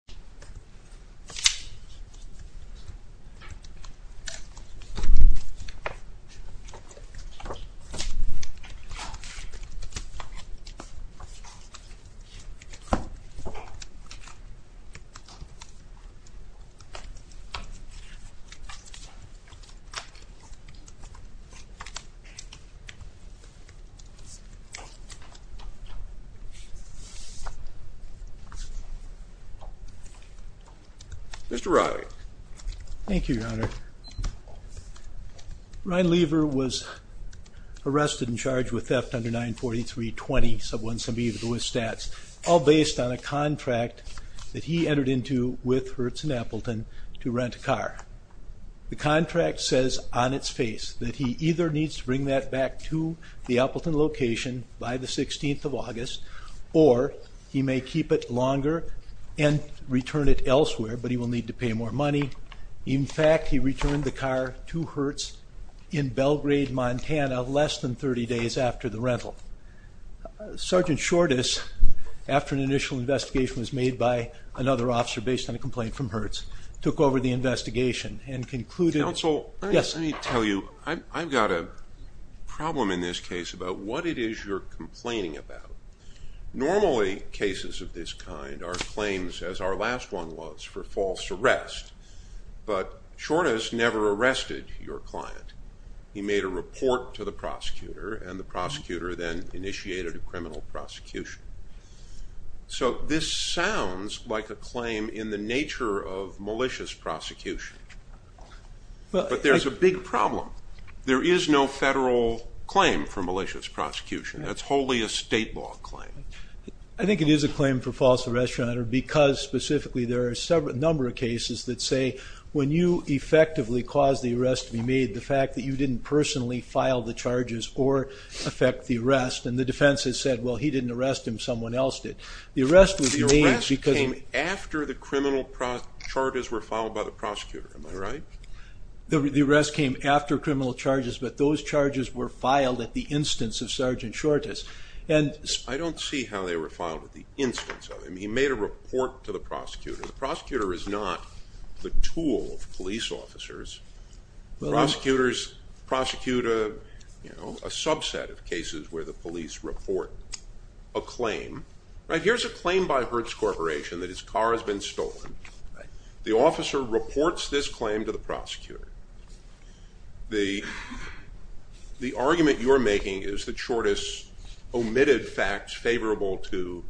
I wanted to get this hook on the Mr. Roderick. Thank you your honor. Ryan Lever was arrested and charged with theft under 943 20 sub one sub even with stats all based on a contract that he entered into with Hertz and Appleton to rent a car. The contract says on its face that he either needs to bring that back to the Appleton location by the 16th of but he will need to pay more money. In fact he returned the car to Hertz in Belgrade Montana less than 30 days after the rental. Sergeant Shortus after an initial investigation was made by another officer based on a complaint from Hertz took over the investigation and concluded. Counsel let me tell you I've got a problem in this case about what it is you're complaining about. Normally cases of this kind are claims as our last one was for false arrest but Shortus never arrested your client. He made a report to the prosecutor and the prosecutor then initiated a criminal prosecution. So this sounds like a claim in the nature of malicious prosecution but there's a big problem. There is no claim for malicious prosecution. That's wholly a state law claim. I think it is a claim for false arrest runner because specifically there are several number of cases that say when you effectively cause the arrest to be made the fact that you didn't personally file the charges or affect the arrest and the defense has said well he didn't arrest him someone else did. The arrest was because after the criminal charges were filed by the prosecutor. Am I right? The charges were filed at the instance of Sergeant Shortus. I don't see how they were filed at the instance of him. He made a report to the prosecutor. The prosecutor is not the tool of police officers. Prosecutors prosecute a subset of cases where the police report a claim. Here's a claim by Hertz Corporation that his car has been stolen. The officer reports this claim to the prosecutor. The argument you're making is that Shortus omitted facts favorable to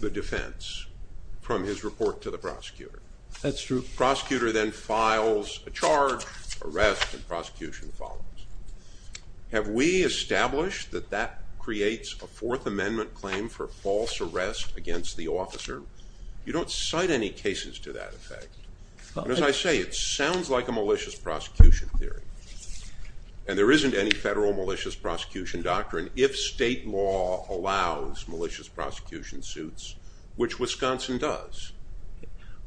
the defense from his report to the prosecutor. That's true. Prosecutor then files a charge, arrest, and prosecution follows. Have we established that that creates a Fourth Amendment claim for false arrest against the officer? You don't cite any cases to that effect. As I say it sounds like a malicious prosecution theory and there isn't any federal malicious prosecution doctrine if state law allows malicious prosecution suits, which Wisconsin does.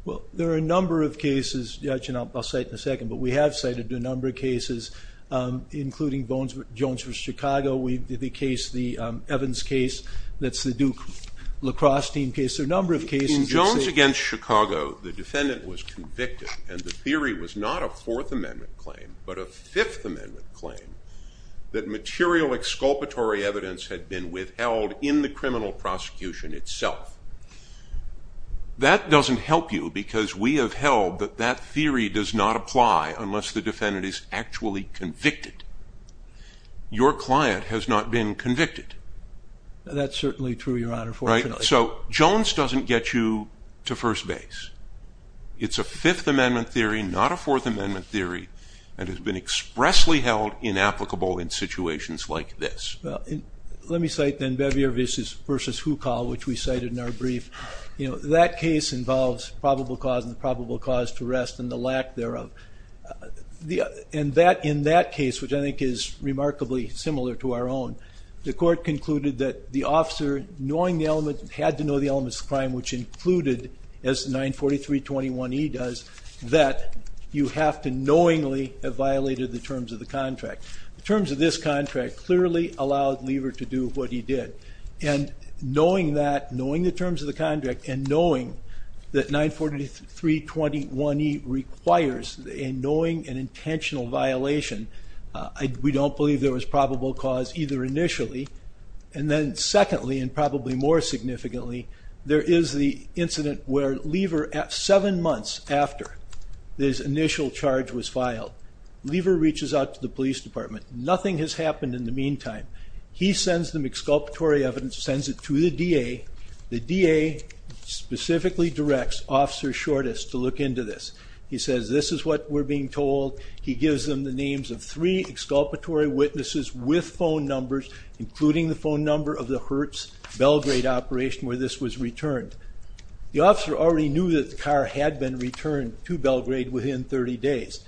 Well there are a number of cases, Judge, and I'll cite in a second, but we have cited a number of cases including Jones v. Chicago. The case, the Evans case, that's the Duke lacrosse team case. There are a number of cases. In Jones against Chicago the defendant was convicted and the theory was not a Fifth Amendment claim, but a Fifth Amendment claim that material exculpatory evidence had been withheld in the criminal prosecution itself. That doesn't help you because we have held that that theory does not apply unless the defendant is actually convicted. Your client has not been convicted. That's certainly true, Your Honor. So Jones doesn't get you to first base. It's a Fourth Amendment theory and has been expressly held inapplicable in situations like this. Well let me cite then Bevier v. Hukal, which we cited in our brief. You know that case involves probable cause and probable cause to arrest and the lack thereof. In that case, which I think is remarkably similar to our own, the court concluded that the officer knowing the element, had to know the elements of crime, which included, as 943.21e does, that you have to knowingly have violated the terms of the contract. The terms of this contract clearly allowed Lever to do what he did and knowing that, knowing the terms of the contract, and knowing that 943.21e requires a knowing and intentional violation, we don't believe there was probable cause either initially and then secondly and probably more significantly, there is the incident where Lever, seven months after this initial charge was filed, Lever reaches out to the police department. Nothing has happened in the meantime. He sends them exculpatory evidence, sends it to the DA. The DA specifically directs Officer Shortest to look into this. He says this is what we're being told. He gives them the names of three exculpatory witnesses with phone numbers, including the phone number of the Hertz Belgrade operation where this was returned. The officer already knew that the car had been returned to Belgrade within 30 days.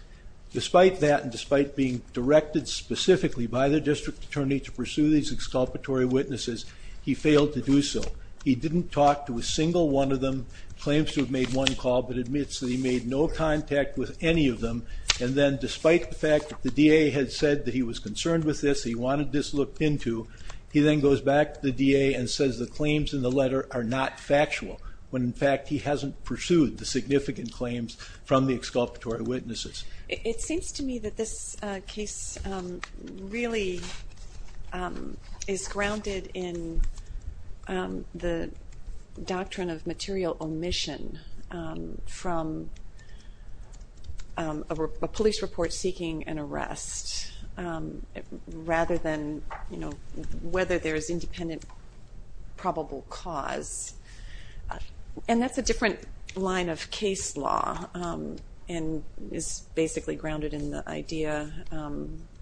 Despite that and despite being directed specifically by the district attorney to pursue these exculpatory witnesses, he failed to do so. He didn't talk to a single one of them, claims to have made one call, but admits that he made no contact with any of them and then despite the fact that the DA had said that he was concerned with this, he wanted this looked into, he then goes back to the DA and says the claims in the letter are not factual, when in fact he hasn't pursued the significant claims from the exculpatory witnesses. It seems to me that this case really is grounded in the doctrine of material omission from a police report seeking an arrest rather than, you know, whether there's independent probable cause. And that's a different line of case law and is basically grounded in the idea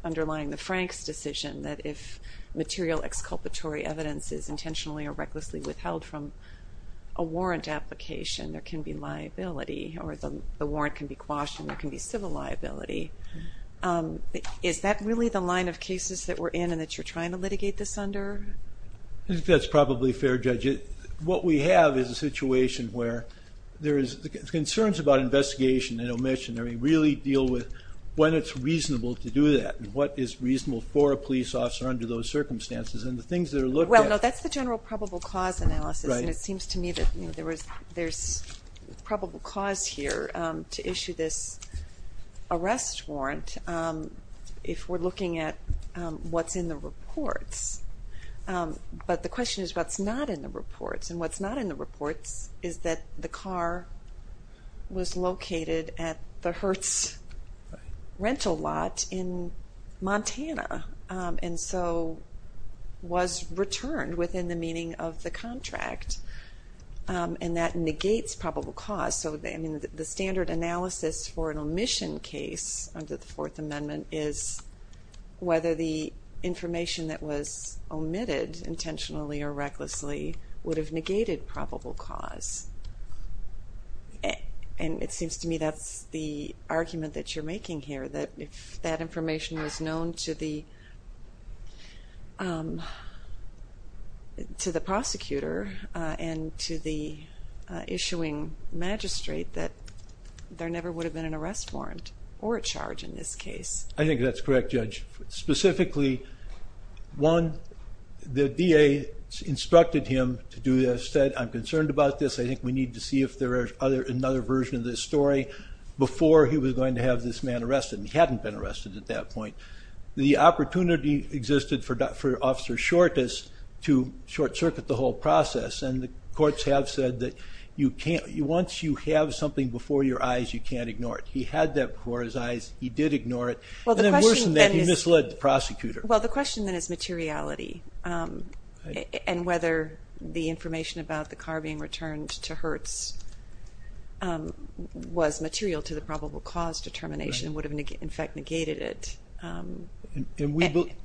underlying the Franks decision that if material exculpatory evidence is intentionally or recklessly withheld from a warrant application, there can be liability or the warrant can be quashed and there can be civil liability. Is that really the line of cases that we're in and that you're trying to litigate this under? I think that's probably fair judge. What we have is a situation where there is the concerns about investigation and omission, I mean really deal with when it's reasonable to do that and what is reasonable for a police officer under those circumstances and the things that Well, no, that's the general probable cause analysis and it seems to me that there's probable cause here to issue this arrest warrant if we're looking at what's in the reports. But the question is what's not in the reports and what's not in the reports is that the car was located at the Hertz rental lot in Montana and so was returned within the meaning of the contract and that negates probable cause. So I mean the standard analysis for an omission case under the Fourth Amendment is whether the information that was omitted intentionally or recklessly would have negated probable cause and it that information was known to the prosecutor and to the issuing magistrate that there never would have been an arrest warrant or a charge in this case. I think that's correct judge. Specifically, one, the DA instructed him to do this, said I'm concerned about this, I think we need to see if there is another version of this story before he was going to have this man arrested at that point. The opportunity existed for Officer Shortes to short-circuit the whole process and the courts have said that you can't, once you have something before your eyes you can't ignore it. He had that before his eyes, he did ignore it, and then worse than that he misled the prosecutor. Well, the question then is materiality and whether the information about the car being returned to Hertz was material to the probable cause determination would have in fact negated it. We believe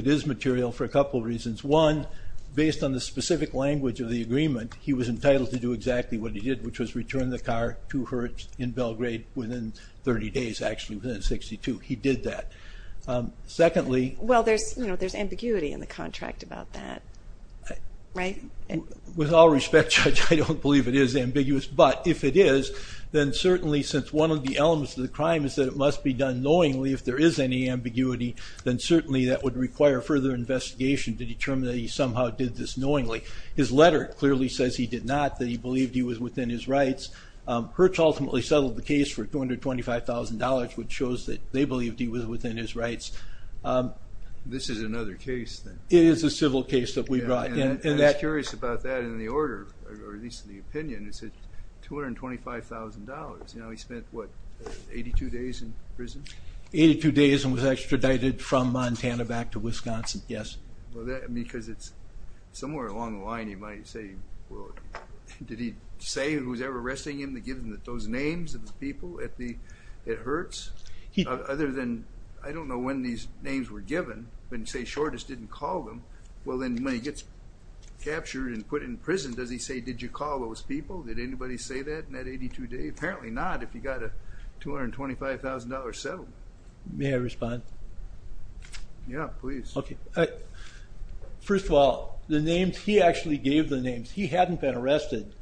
it is material for a couple reasons. One, based on the specific language of the agreement, he was entitled to do exactly what he did which was return the car to Hertz in Belgrade within 30 days, actually within 62. He did that. Secondly, well there's you know there's ambiguity in the contract about that, right? With all respect judge, I don't believe it is elements of the crime is that it must be done knowingly if there is any ambiguity then certainly that would require further investigation to determine that he somehow did this knowingly. His letter clearly says he did not, that he believed he was within his rights. Hertz ultimately settled the case for $225,000 which shows that they believed he was within his rights. This is another case then. It is a civil case that we brought in. I was curious about that in the order, or at least in the opinion, it said $225,000. You know he spent what, 82 days in prison? Eighty-two days and was extradited from Montana back to Wisconsin, yes. Because it's somewhere along the line you might say, well did he say who was ever arresting him to give him those names of the people at the, at Hertz? Other than I don't know when these names were given, when say Shortus didn't call them, well then when he gets captured and put in prison does he say did you call those people? Did anybody say that in that 82 days? Apparently not if you got a $225,000 settlement. May I respond? Yeah, please. Okay. First of all, the names, he actually gave the names. He hadn't been arrested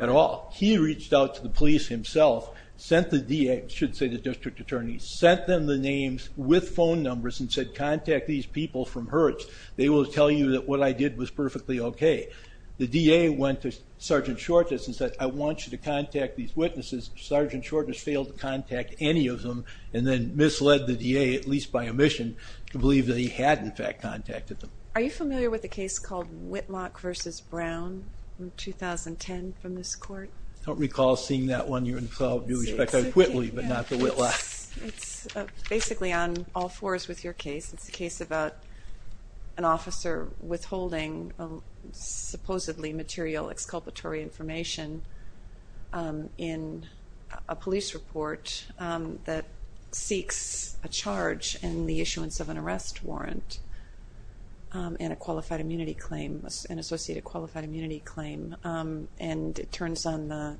at all. He reached out to the police himself, sent the DA, should say the district attorney, sent them the names with phone numbers and said contact these people from Hertz. They will tell you that what I did was perfectly okay. The DA went to Sergeant Shortus and said I want you to contact these witnesses. Sergeant Shortus failed to contact any of them and then misled the DA, at least by omission, to believe that he had in fact contacted them. Are you familiar with the case called Whitlock versus Brown in 2010 from this court? Don't recall seeing that one yourself. I do respect that Whitley, but not the Whitlock. It's basically on all fours with your case. It's a case about an officer withholding supposedly material exculpatory information in a police report that seeks a charge in the issuance of an arrest warrant and a qualified immunity claim, an associated immunity claim, and it turns on the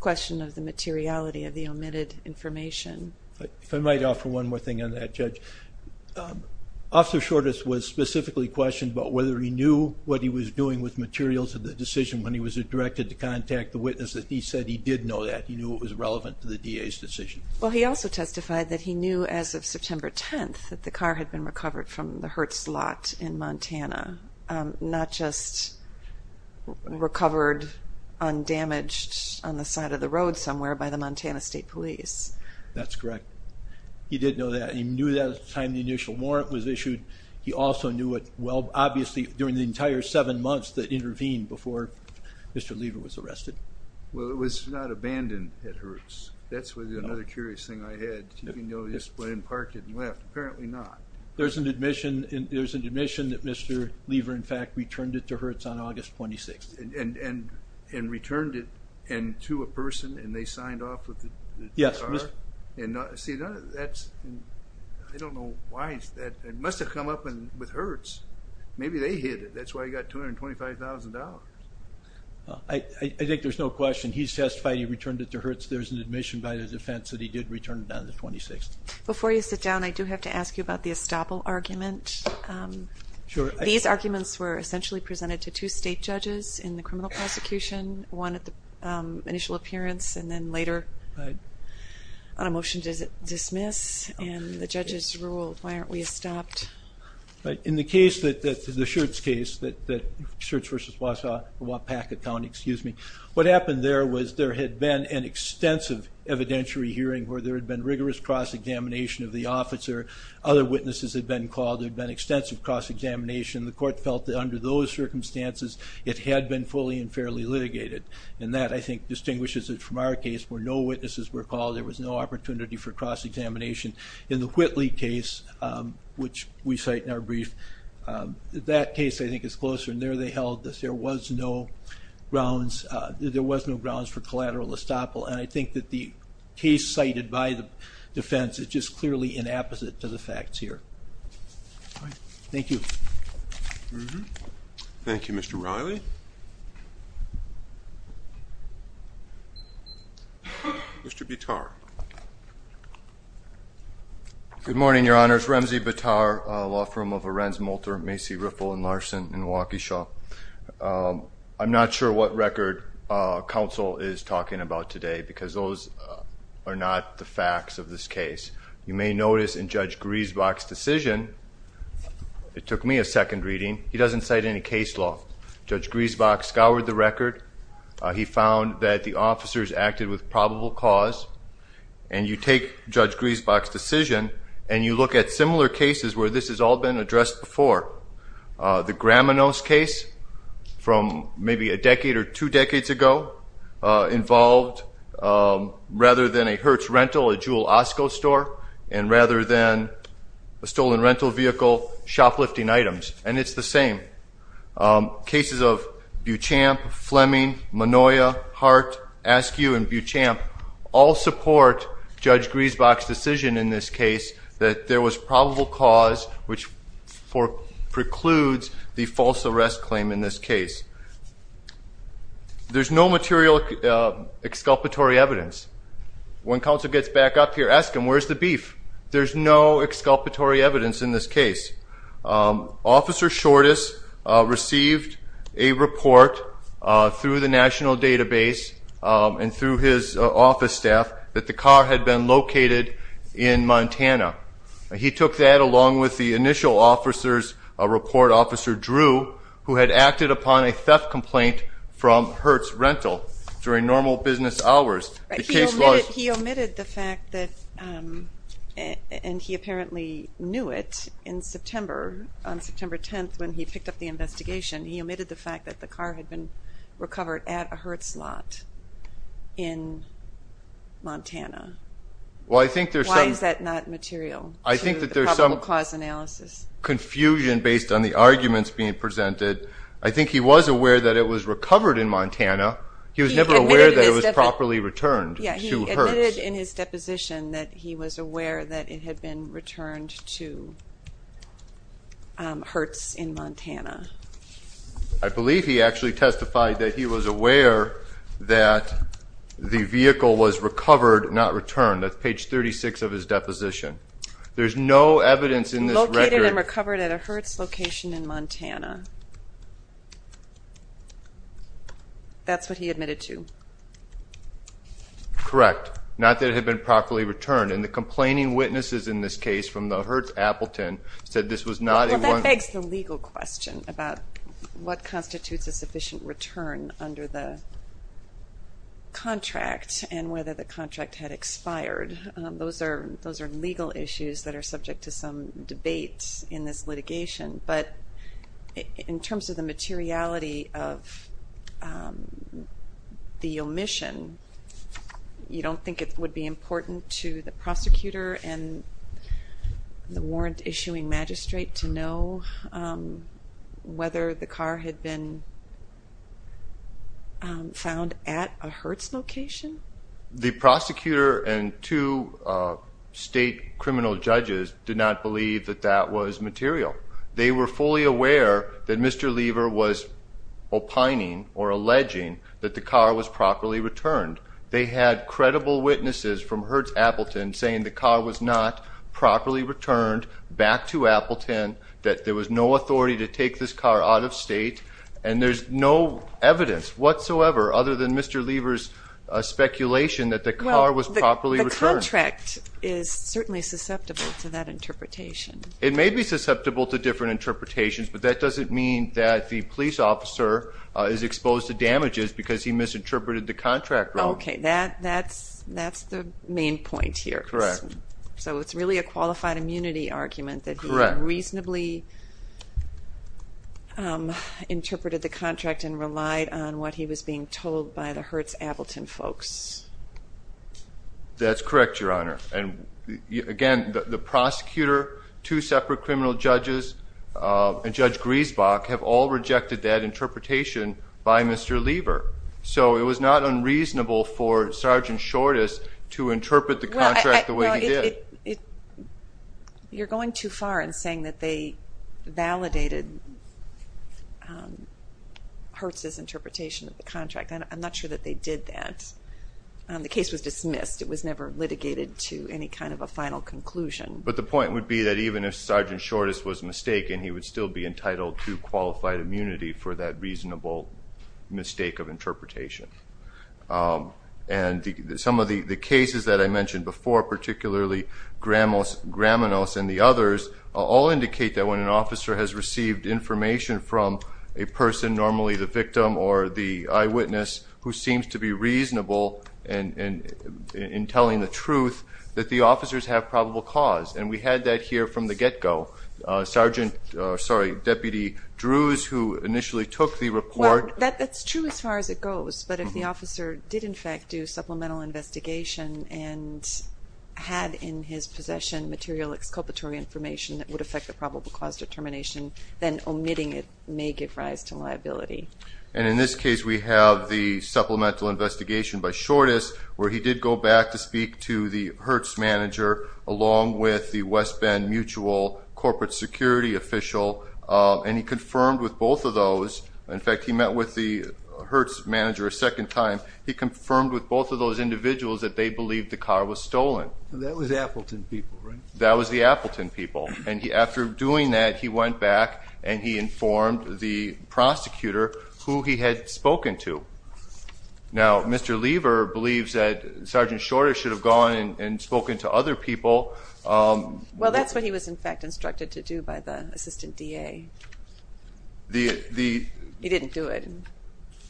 question of the materiality of the omitted information. If I might offer one more thing on that, Judge. Officer Shortus was specifically questioned about whether he knew what he was doing with materials of the decision when he was directed to contact the witness that he said he did know that. He knew it was relevant to the DA's decision. Well, he also testified that he knew as of September 10th that the car had been recovered undamaged on the side of the road somewhere by the Montana State Police. That's correct. He did know that. He knew that at the time the initial warrant was issued. He also knew it, well, obviously during the entire seven months that intervened before Mr. Lever was arrested. Well, it was not abandoned at Hertz. That's another curious thing I had. You know, just went and parked it and left. Apparently not. There's an omission that Mr. Lever returned it on August 26th. And returned it and to a person and they signed off with the Yes. See, that's, I don't know why, it must have come up with Hertz. Maybe they hid it. That's why he got $225,000. I think there's no question he testified he returned it to Hertz. There's an omission by the defense that he did return it on the 26th. Before you sit down, I do have to ask you about the These arguments were essentially presented to two state judges in the criminal prosecution. One at the initial appearance and then later on a motion to dismiss. And the judges ruled, why aren't we stopped? In the case that, the Schertz case, that Schertz v. Wapaka County, excuse me, what happened there was there had been an extensive evidentiary hearing where there had been rigorous cross-examination of the officer. Other witnesses had been called. There had been extensive cross-examination. The court felt that under those circumstances it had been fully and fairly litigated. And that I think distinguishes it from our case where no witnesses were called. There was no opportunity for cross-examination. In the Whitley case, which we cite in our brief, that case I think is closer. And there they held this. There was no grounds, there was no grounds for collateral estoppel. And I think that the case cited by the defense is just clearly inapposite to the facts here. Thank you. Thank you, Mr. Riley. Mr. Bitar. Good morning, Your Honors. Remzi Bitar, law firm of Arendz-Molter, Macy Riffle, and Larson in Waukesha. I'm not sure what the facts of this case. You may notice in Judge Griesbach's decision, it took me a second reading, he doesn't cite any case law. Judge Griesbach scoured the record. He found that the officers acted with probable cause. And you take Judge Griesbach's decision and you look at similar cases where this has all been addressed before. The Graminos case from maybe a decade or two decades ago involved, rather than a Hertz rental, a Jewel Osco store, and rather than a stolen rental vehicle, shoplifting items. And it's the same. Cases of Buchamp, Fleming, Manoia, Hart, Askew, and Buchamp all support Judge Griesbach's decision in this case that there was probable cause, which precludes the false arrest claim in this case. There's no material exculpatory evidence. When counsel gets back up here, ask him, where's the beef? There's no exculpatory evidence in this case. Officer Shortus received a report through the National Database and through his office staff that the car had been located in Montana. He took that along with the initial officers, a report officer Drew, who had acted upon a theft complaint from Hertz rental during normal business hours. He omitted the fact that, and he apparently knew it in September, on September 10th when he picked up the investigation, he omitted the fact that the car had been recovered at a Hertz lot in Montana. Why is that not material? I think that there's some confusion based on the arguments being presented. I think he was aware that it was recovered in Montana. He was never aware that it was properly returned to Hertz. He admitted in his deposition that he was aware that it had been returned to Hertz in Montana. I believe he actually testified that he was aware that the vehicle was located and recovered at a Hertz location in Montana. That's what he admitted to. Correct. Not that it had been properly returned. And the complaining witnesses in this case from the Hertz Appleton said this was not... Well that begs the legal question about what constitutes a sufficient return under the contract and whether the contract had expired. Those are those are legal issues that are subject to some debate in this litigation, but in terms of the materiality of the omission, you don't think it would be important to the prosecutor and the warrant issuing magistrate to know whether the car had been found at a Hertz location? The prosecutor and two state criminal judges did not believe that that was material. They were fully aware that Mr. Lever was opining or alleging that the car was properly returned. They had credible witnesses from Hertz Appleton saying the car was not properly returned back to Appleton, that there was no authority to take this car out of state, and there's no evidence whatsoever other than Mr. Lever's speculation that the car was properly returned. The contract is certainly susceptible to that interpretation. It may be susceptible to different interpretations, but that doesn't mean that the police officer is exposed to damages because he misinterpreted the contract wrong. Okay, that's the main point here. Correct. So it's really a qualified immunity argument that he reasonably interpreted the contract and relied on what he was being told by the Hertz Appleton folks. That's correct, Your Honor. And again, the prosecutor, two separate criminal judges, and Judge Griesbach have all rejected that interpretation by Mr. Lever. So it was not unreasonable for Sergeant Shortest to interpret the contract the way he did. You're going too far in saying that they validated Hertz's interpretation of the contract. I'm not sure that they did that. The case was dismissed. It was never litigated to any kind of a final conclusion. But the point would be that even if Sergeant Shortest was mistaken, he would still be entitled to qualified immunity for that reasonable mistake of interpretation. And some of the cases that I mentioned before, particularly Gramonos and the others, all indicate that when an officer has received information from a person, normally the victim or the eyewitness, who seems to be reasonable in telling the truth, that the officers have probable cause. And we had that here from the get-go. Deputy Drews, who initially took the report... Well, that's true as far as it had in his possession material exculpatory information that would affect the probable cause determination, then omitting it may give rise to liability. And in this case we have the supplemental investigation by Shortest, where he did go back to speak to the Hertz manager, along with the West Bend Mutual corporate security official, and he confirmed with both of those, in fact he met with the Hertz manager a second time, he confirmed with both of those That was the Appleton people, right? That was the Appleton people. And after doing that, he went back and he informed the prosecutor who he had spoken to. Now, Mr. Lever believes that Sergeant Shortest should have gone and spoken to other people. Well, that's what he was in fact instructed to do by the assistant DA. He didn't do it.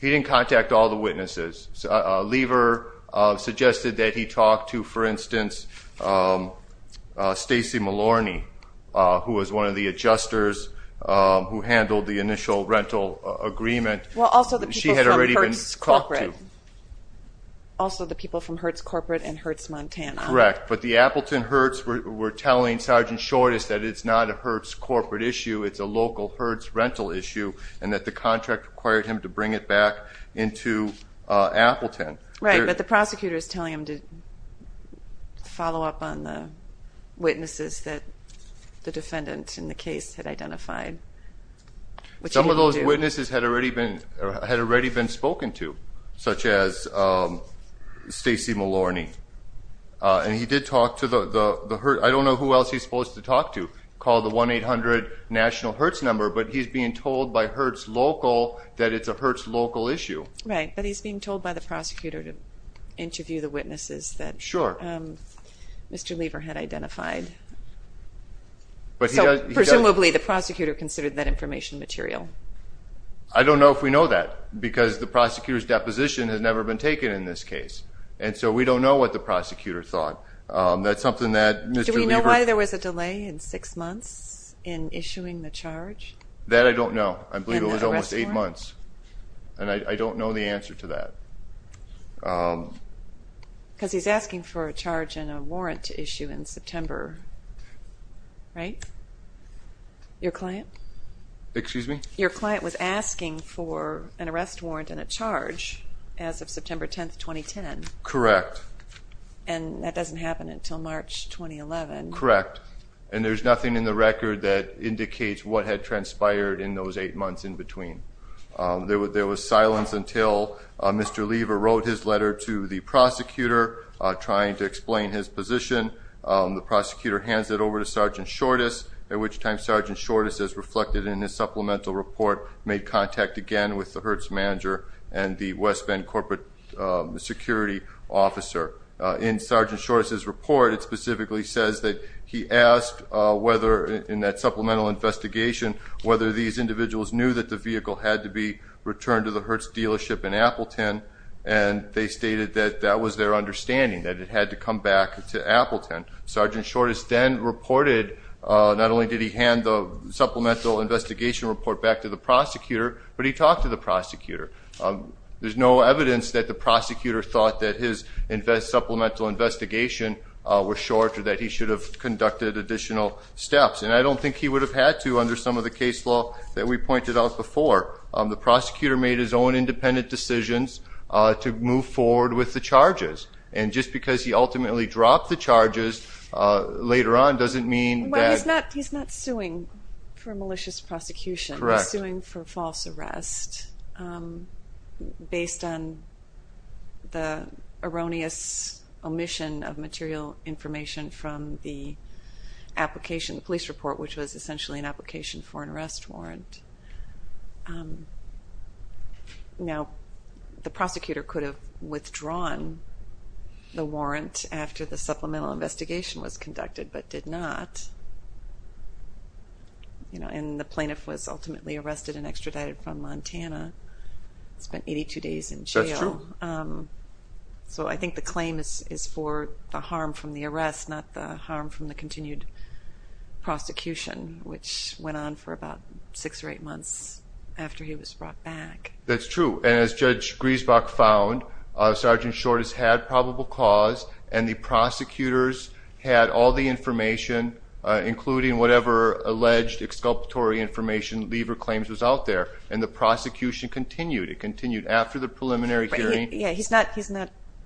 He didn't contact all the witnesses. Lever suggested that he talk to, for instance, Stacey Malorny, who was one of the adjusters who handled the initial rental agreement. Well, also the people from Hertz corporate. Also the people from Hertz corporate and Hertz Montana. Correct, but the Appleton Hertz were telling Sergeant Shortest that it's not a Hertz corporate issue, it's a local Hertz rental issue, and that the contract required him to bring it back into Appleton. Right, but the prosecutor is telling him to follow up on the witnesses that the defendant in the case had identified. Some of those witnesses had already been spoken to, such as Stacey Malorny, and he did talk to the Hertz, I don't know who else he's supposed to talk to, call the 1-800-National-Hertz number, but he's being told by Hertz local that it's a Hertz local issue. Right, but he's being told by the prosecutor to interview the witnesses that Mr. Lever had identified. Presumably the prosecutor considered that information material. I don't know if we know that, because the prosecutor's deposition has never been taken in this case, and so we don't know what the prosecutor thought. That's something that Mr. Lever... Do we know why there was a delay in six months in issuing the charge? That I don't know. I believe it was almost eight months, and I don't know the answer to that. Because he's asking for a charge and a warrant issue in September, right? Your client? Excuse me? Your client was asking for an arrest warrant and a charge as of September 10th, 2010. Correct. And that doesn't happen until March 2011. Correct, and there's nothing in the record that indicates what had transpired in those eight months in between. There was silence until Mr. Lever wrote his letter to the prosecutor trying to explain his position. The prosecutor hands it over to Sgt. Shortus, at which time Sgt. Shortus, as reflected in his supplemental report, made contact again with the Hertz manager and the West Bend corporate security officer. In Sgt. Shortus's report, it specifically says that he asked whether, in that supplemental investigation, whether these individuals knew that the vehicle had to be returned to the Hertz dealership in Appleton. And they stated that that was their understanding, that it had to come back to Appleton. Sgt. Shortus then reported, not only did he hand the supplemental investigation report back to the prosecutor, but he talked to the prosecutor. There's no evidence that the prosecutor thought that his supplemental investigation was short or that he should have conducted additional steps. And I don't think he would have had to under some of the case law that we pointed out before. The prosecutor made his own independent decisions to move forward with the charges. And just because he ultimately dropped the charges later on doesn't mean that... He's not suing for malicious prosecution. Correct. He's suing for false arrest based on the erroneous omission of material information from the application, the Now the prosecutor could have withdrawn the warrant after the supplemental investigation was conducted, but did not. You know, and the plaintiff was ultimately arrested and extradited from Montana, spent 82 days in jail. That's true. So I think the claim is for the harm from the arrest, not the harm from the continued prosecution, which went on for about six or eight months after he was brought back. That's true. And as Judge Griesbach found, Sergeant Short has had probable cause and the prosecutors had all the information, including whatever alleged exculpatory information, lever claims, was out there. And the prosecution continued. It continued after the preliminary hearing. Yeah, he's not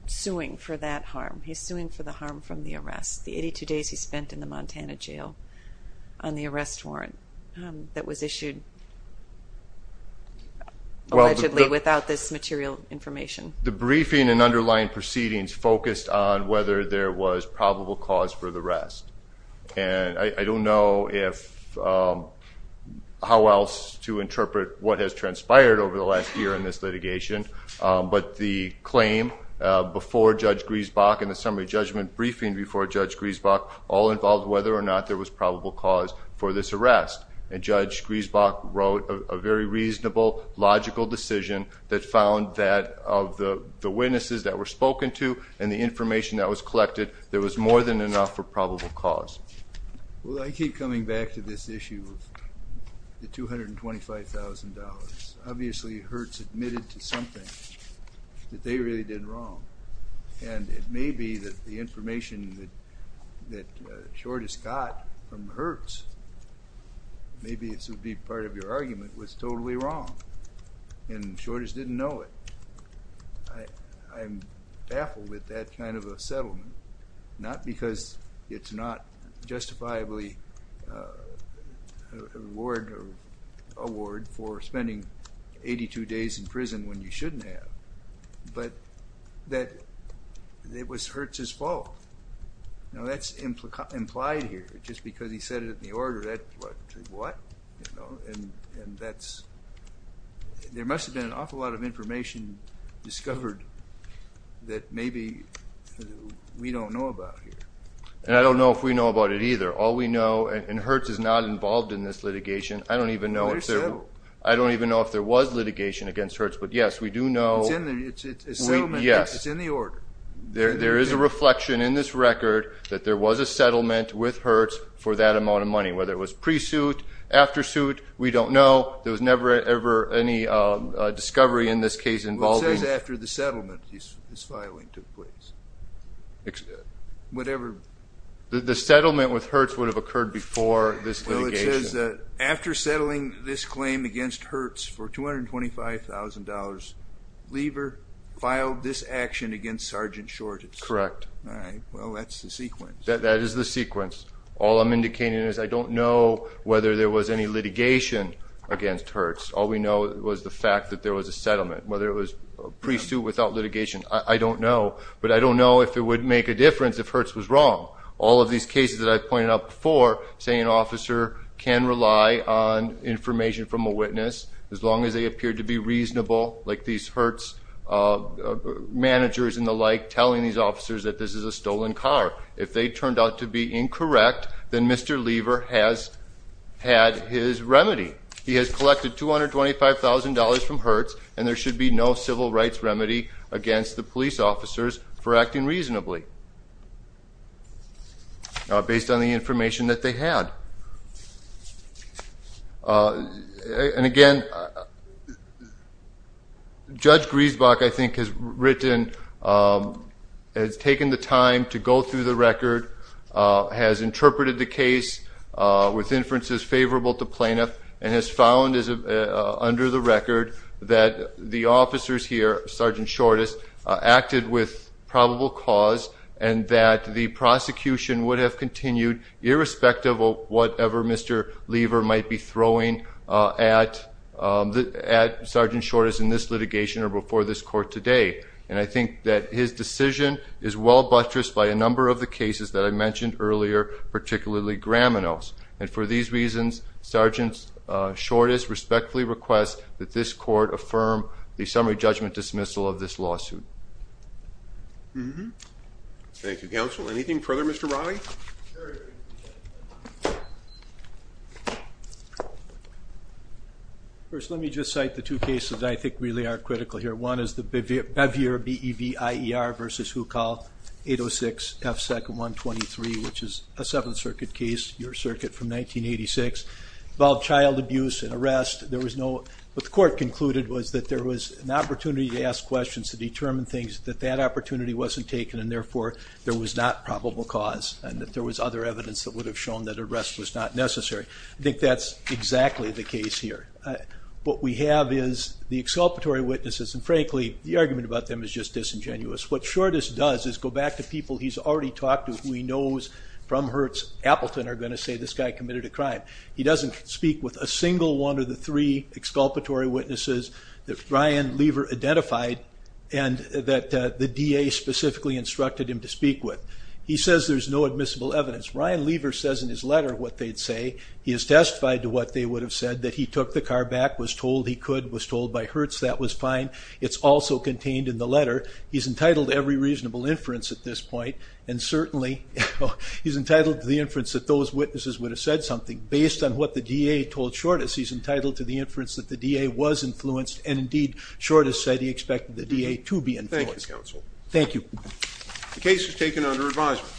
suing for that harm. He's suing for the harm from the arrest. The 82 days he allegedly without this material information. The briefing and underlying proceedings focused on whether there was probable cause for the arrest. And I don't know how else to interpret what has transpired over the last year in this litigation, but the claim before Judge Griesbach and the summary judgment briefing before Judge Griesbach all involved whether or not there was a very reasonable, logical decision that found that of the witnesses that were spoken to and the information that was collected, there was more than enough for probable cause. Well, I keep coming back to this issue of the $225,000. Obviously Hertz admitted to something that they really did wrong. And it may be that the information that Short has got from Hertz, maybe this would be part of your argument, was totally wrong. And Short didn't know it. I'm baffled with that kind of a settlement. Not because it's not justifiably a reward for spending 82 days in prison when you shouldn't have, but that it was Hertz's fault. Now that's implied here. Just because he said it in the order, that's what? And there must have been an awful lot of information discovered that maybe we don't know about here. And I don't know if we know about it either. All we know, and Hertz is not involved in this litigation. I don't even know if there was litigation against Hertz, but yes, we do know... It's in the order. There is a reflection in this record that there was a settlement with Hertz for that amount of money. Whether it was pre-suit, after suit, we don't know. There was never ever any discovery in this case involving... It says after the settlement this filing took place. Whatever... The settlement with Hertz would have occurred before this litigation. Well, it says that after settling this claim against Hertz for $225,000, Lever filed this action against Sergeant Shortz. Correct. Well, that's the sequence. That is the sequence. All I'm indicating is I don't know whether there was any litigation against Hertz. All we know was the fact that there was a settlement. Whether it was pre-suit without litigation, I don't know. But I don't know if it would make a difference if Hertz was wrong. All of these cases that I've pointed out before, say an officer can rely on information from a witness, as long as they appear to be telling these officers that this is a stolen car. If they turned out to be incorrect, then Mr. Lever has had his remedy. He has collected $225,000 from Hertz and there should be no civil rights remedy against the police officers for acting reasonably, based on the information that they had. And again, Judge Griesbach, I think, has written, has taken the time to go through the record, has interpreted the case with inferences favorable to plaintiff and has found under the record that the officers here, Sergeant Shortz, acted with probable cause and that the prosecution would have continued, irrespective of whatever Mr. Lever might be throwing at Sergeant Shortz in this litigation or before this court today. And I think that his decision is well buttressed by a number of the cases that I mentioned earlier, particularly Gramino's. And for these reasons, Sergeant Shortz respectfully requests that this court affirm the summary judgment dismissal of this lawsuit. Mm-hmm. Thank you, counsel. Anything further, Mr. Raleigh? First, let me just cite the two cases I think really are critical here. One is the Bevier, B-E-V-I-E-R versus Hukal, 806 F 2nd 123, which is a Seventh Circuit case, your circuit from 1986. Involved child abuse and arrest. There was no, what the court concluded was that there was an opportunity to ask questions to determine things, that that opportunity wasn't taken, and therefore there was not probable cause, and that there was other evidence that would have shown that arrest was not necessary. I think that's exactly the case here. What we have is the exculpatory witnesses, and frankly, the argument about them is just disingenuous. What Shortz does is go back to people he's already talked to who he knows from Hertz Appleton are going to say this guy committed a crime. He doesn't speak with a single one of the three exculpatory witnesses that Ryan Lever identified and that the DA specifically instructed him to speak with. He says there's no admissible evidence. Ryan Lever says in his letter what they'd say. He is testified to what they would have said, that he took the car back, was told he could, was told by Hertz that was fine. It's also contained in the letter. He's entitled to every reasonable inference at this point, and certainly he's entitled to the inference that those witnesses would have said something. Based on what the DA told Shortus, he's entitled to the inference that the DA was influenced, and indeed Shortus said he expected the DA to be influenced. Thank you, counsel. Thank you. The case is taken under advisement.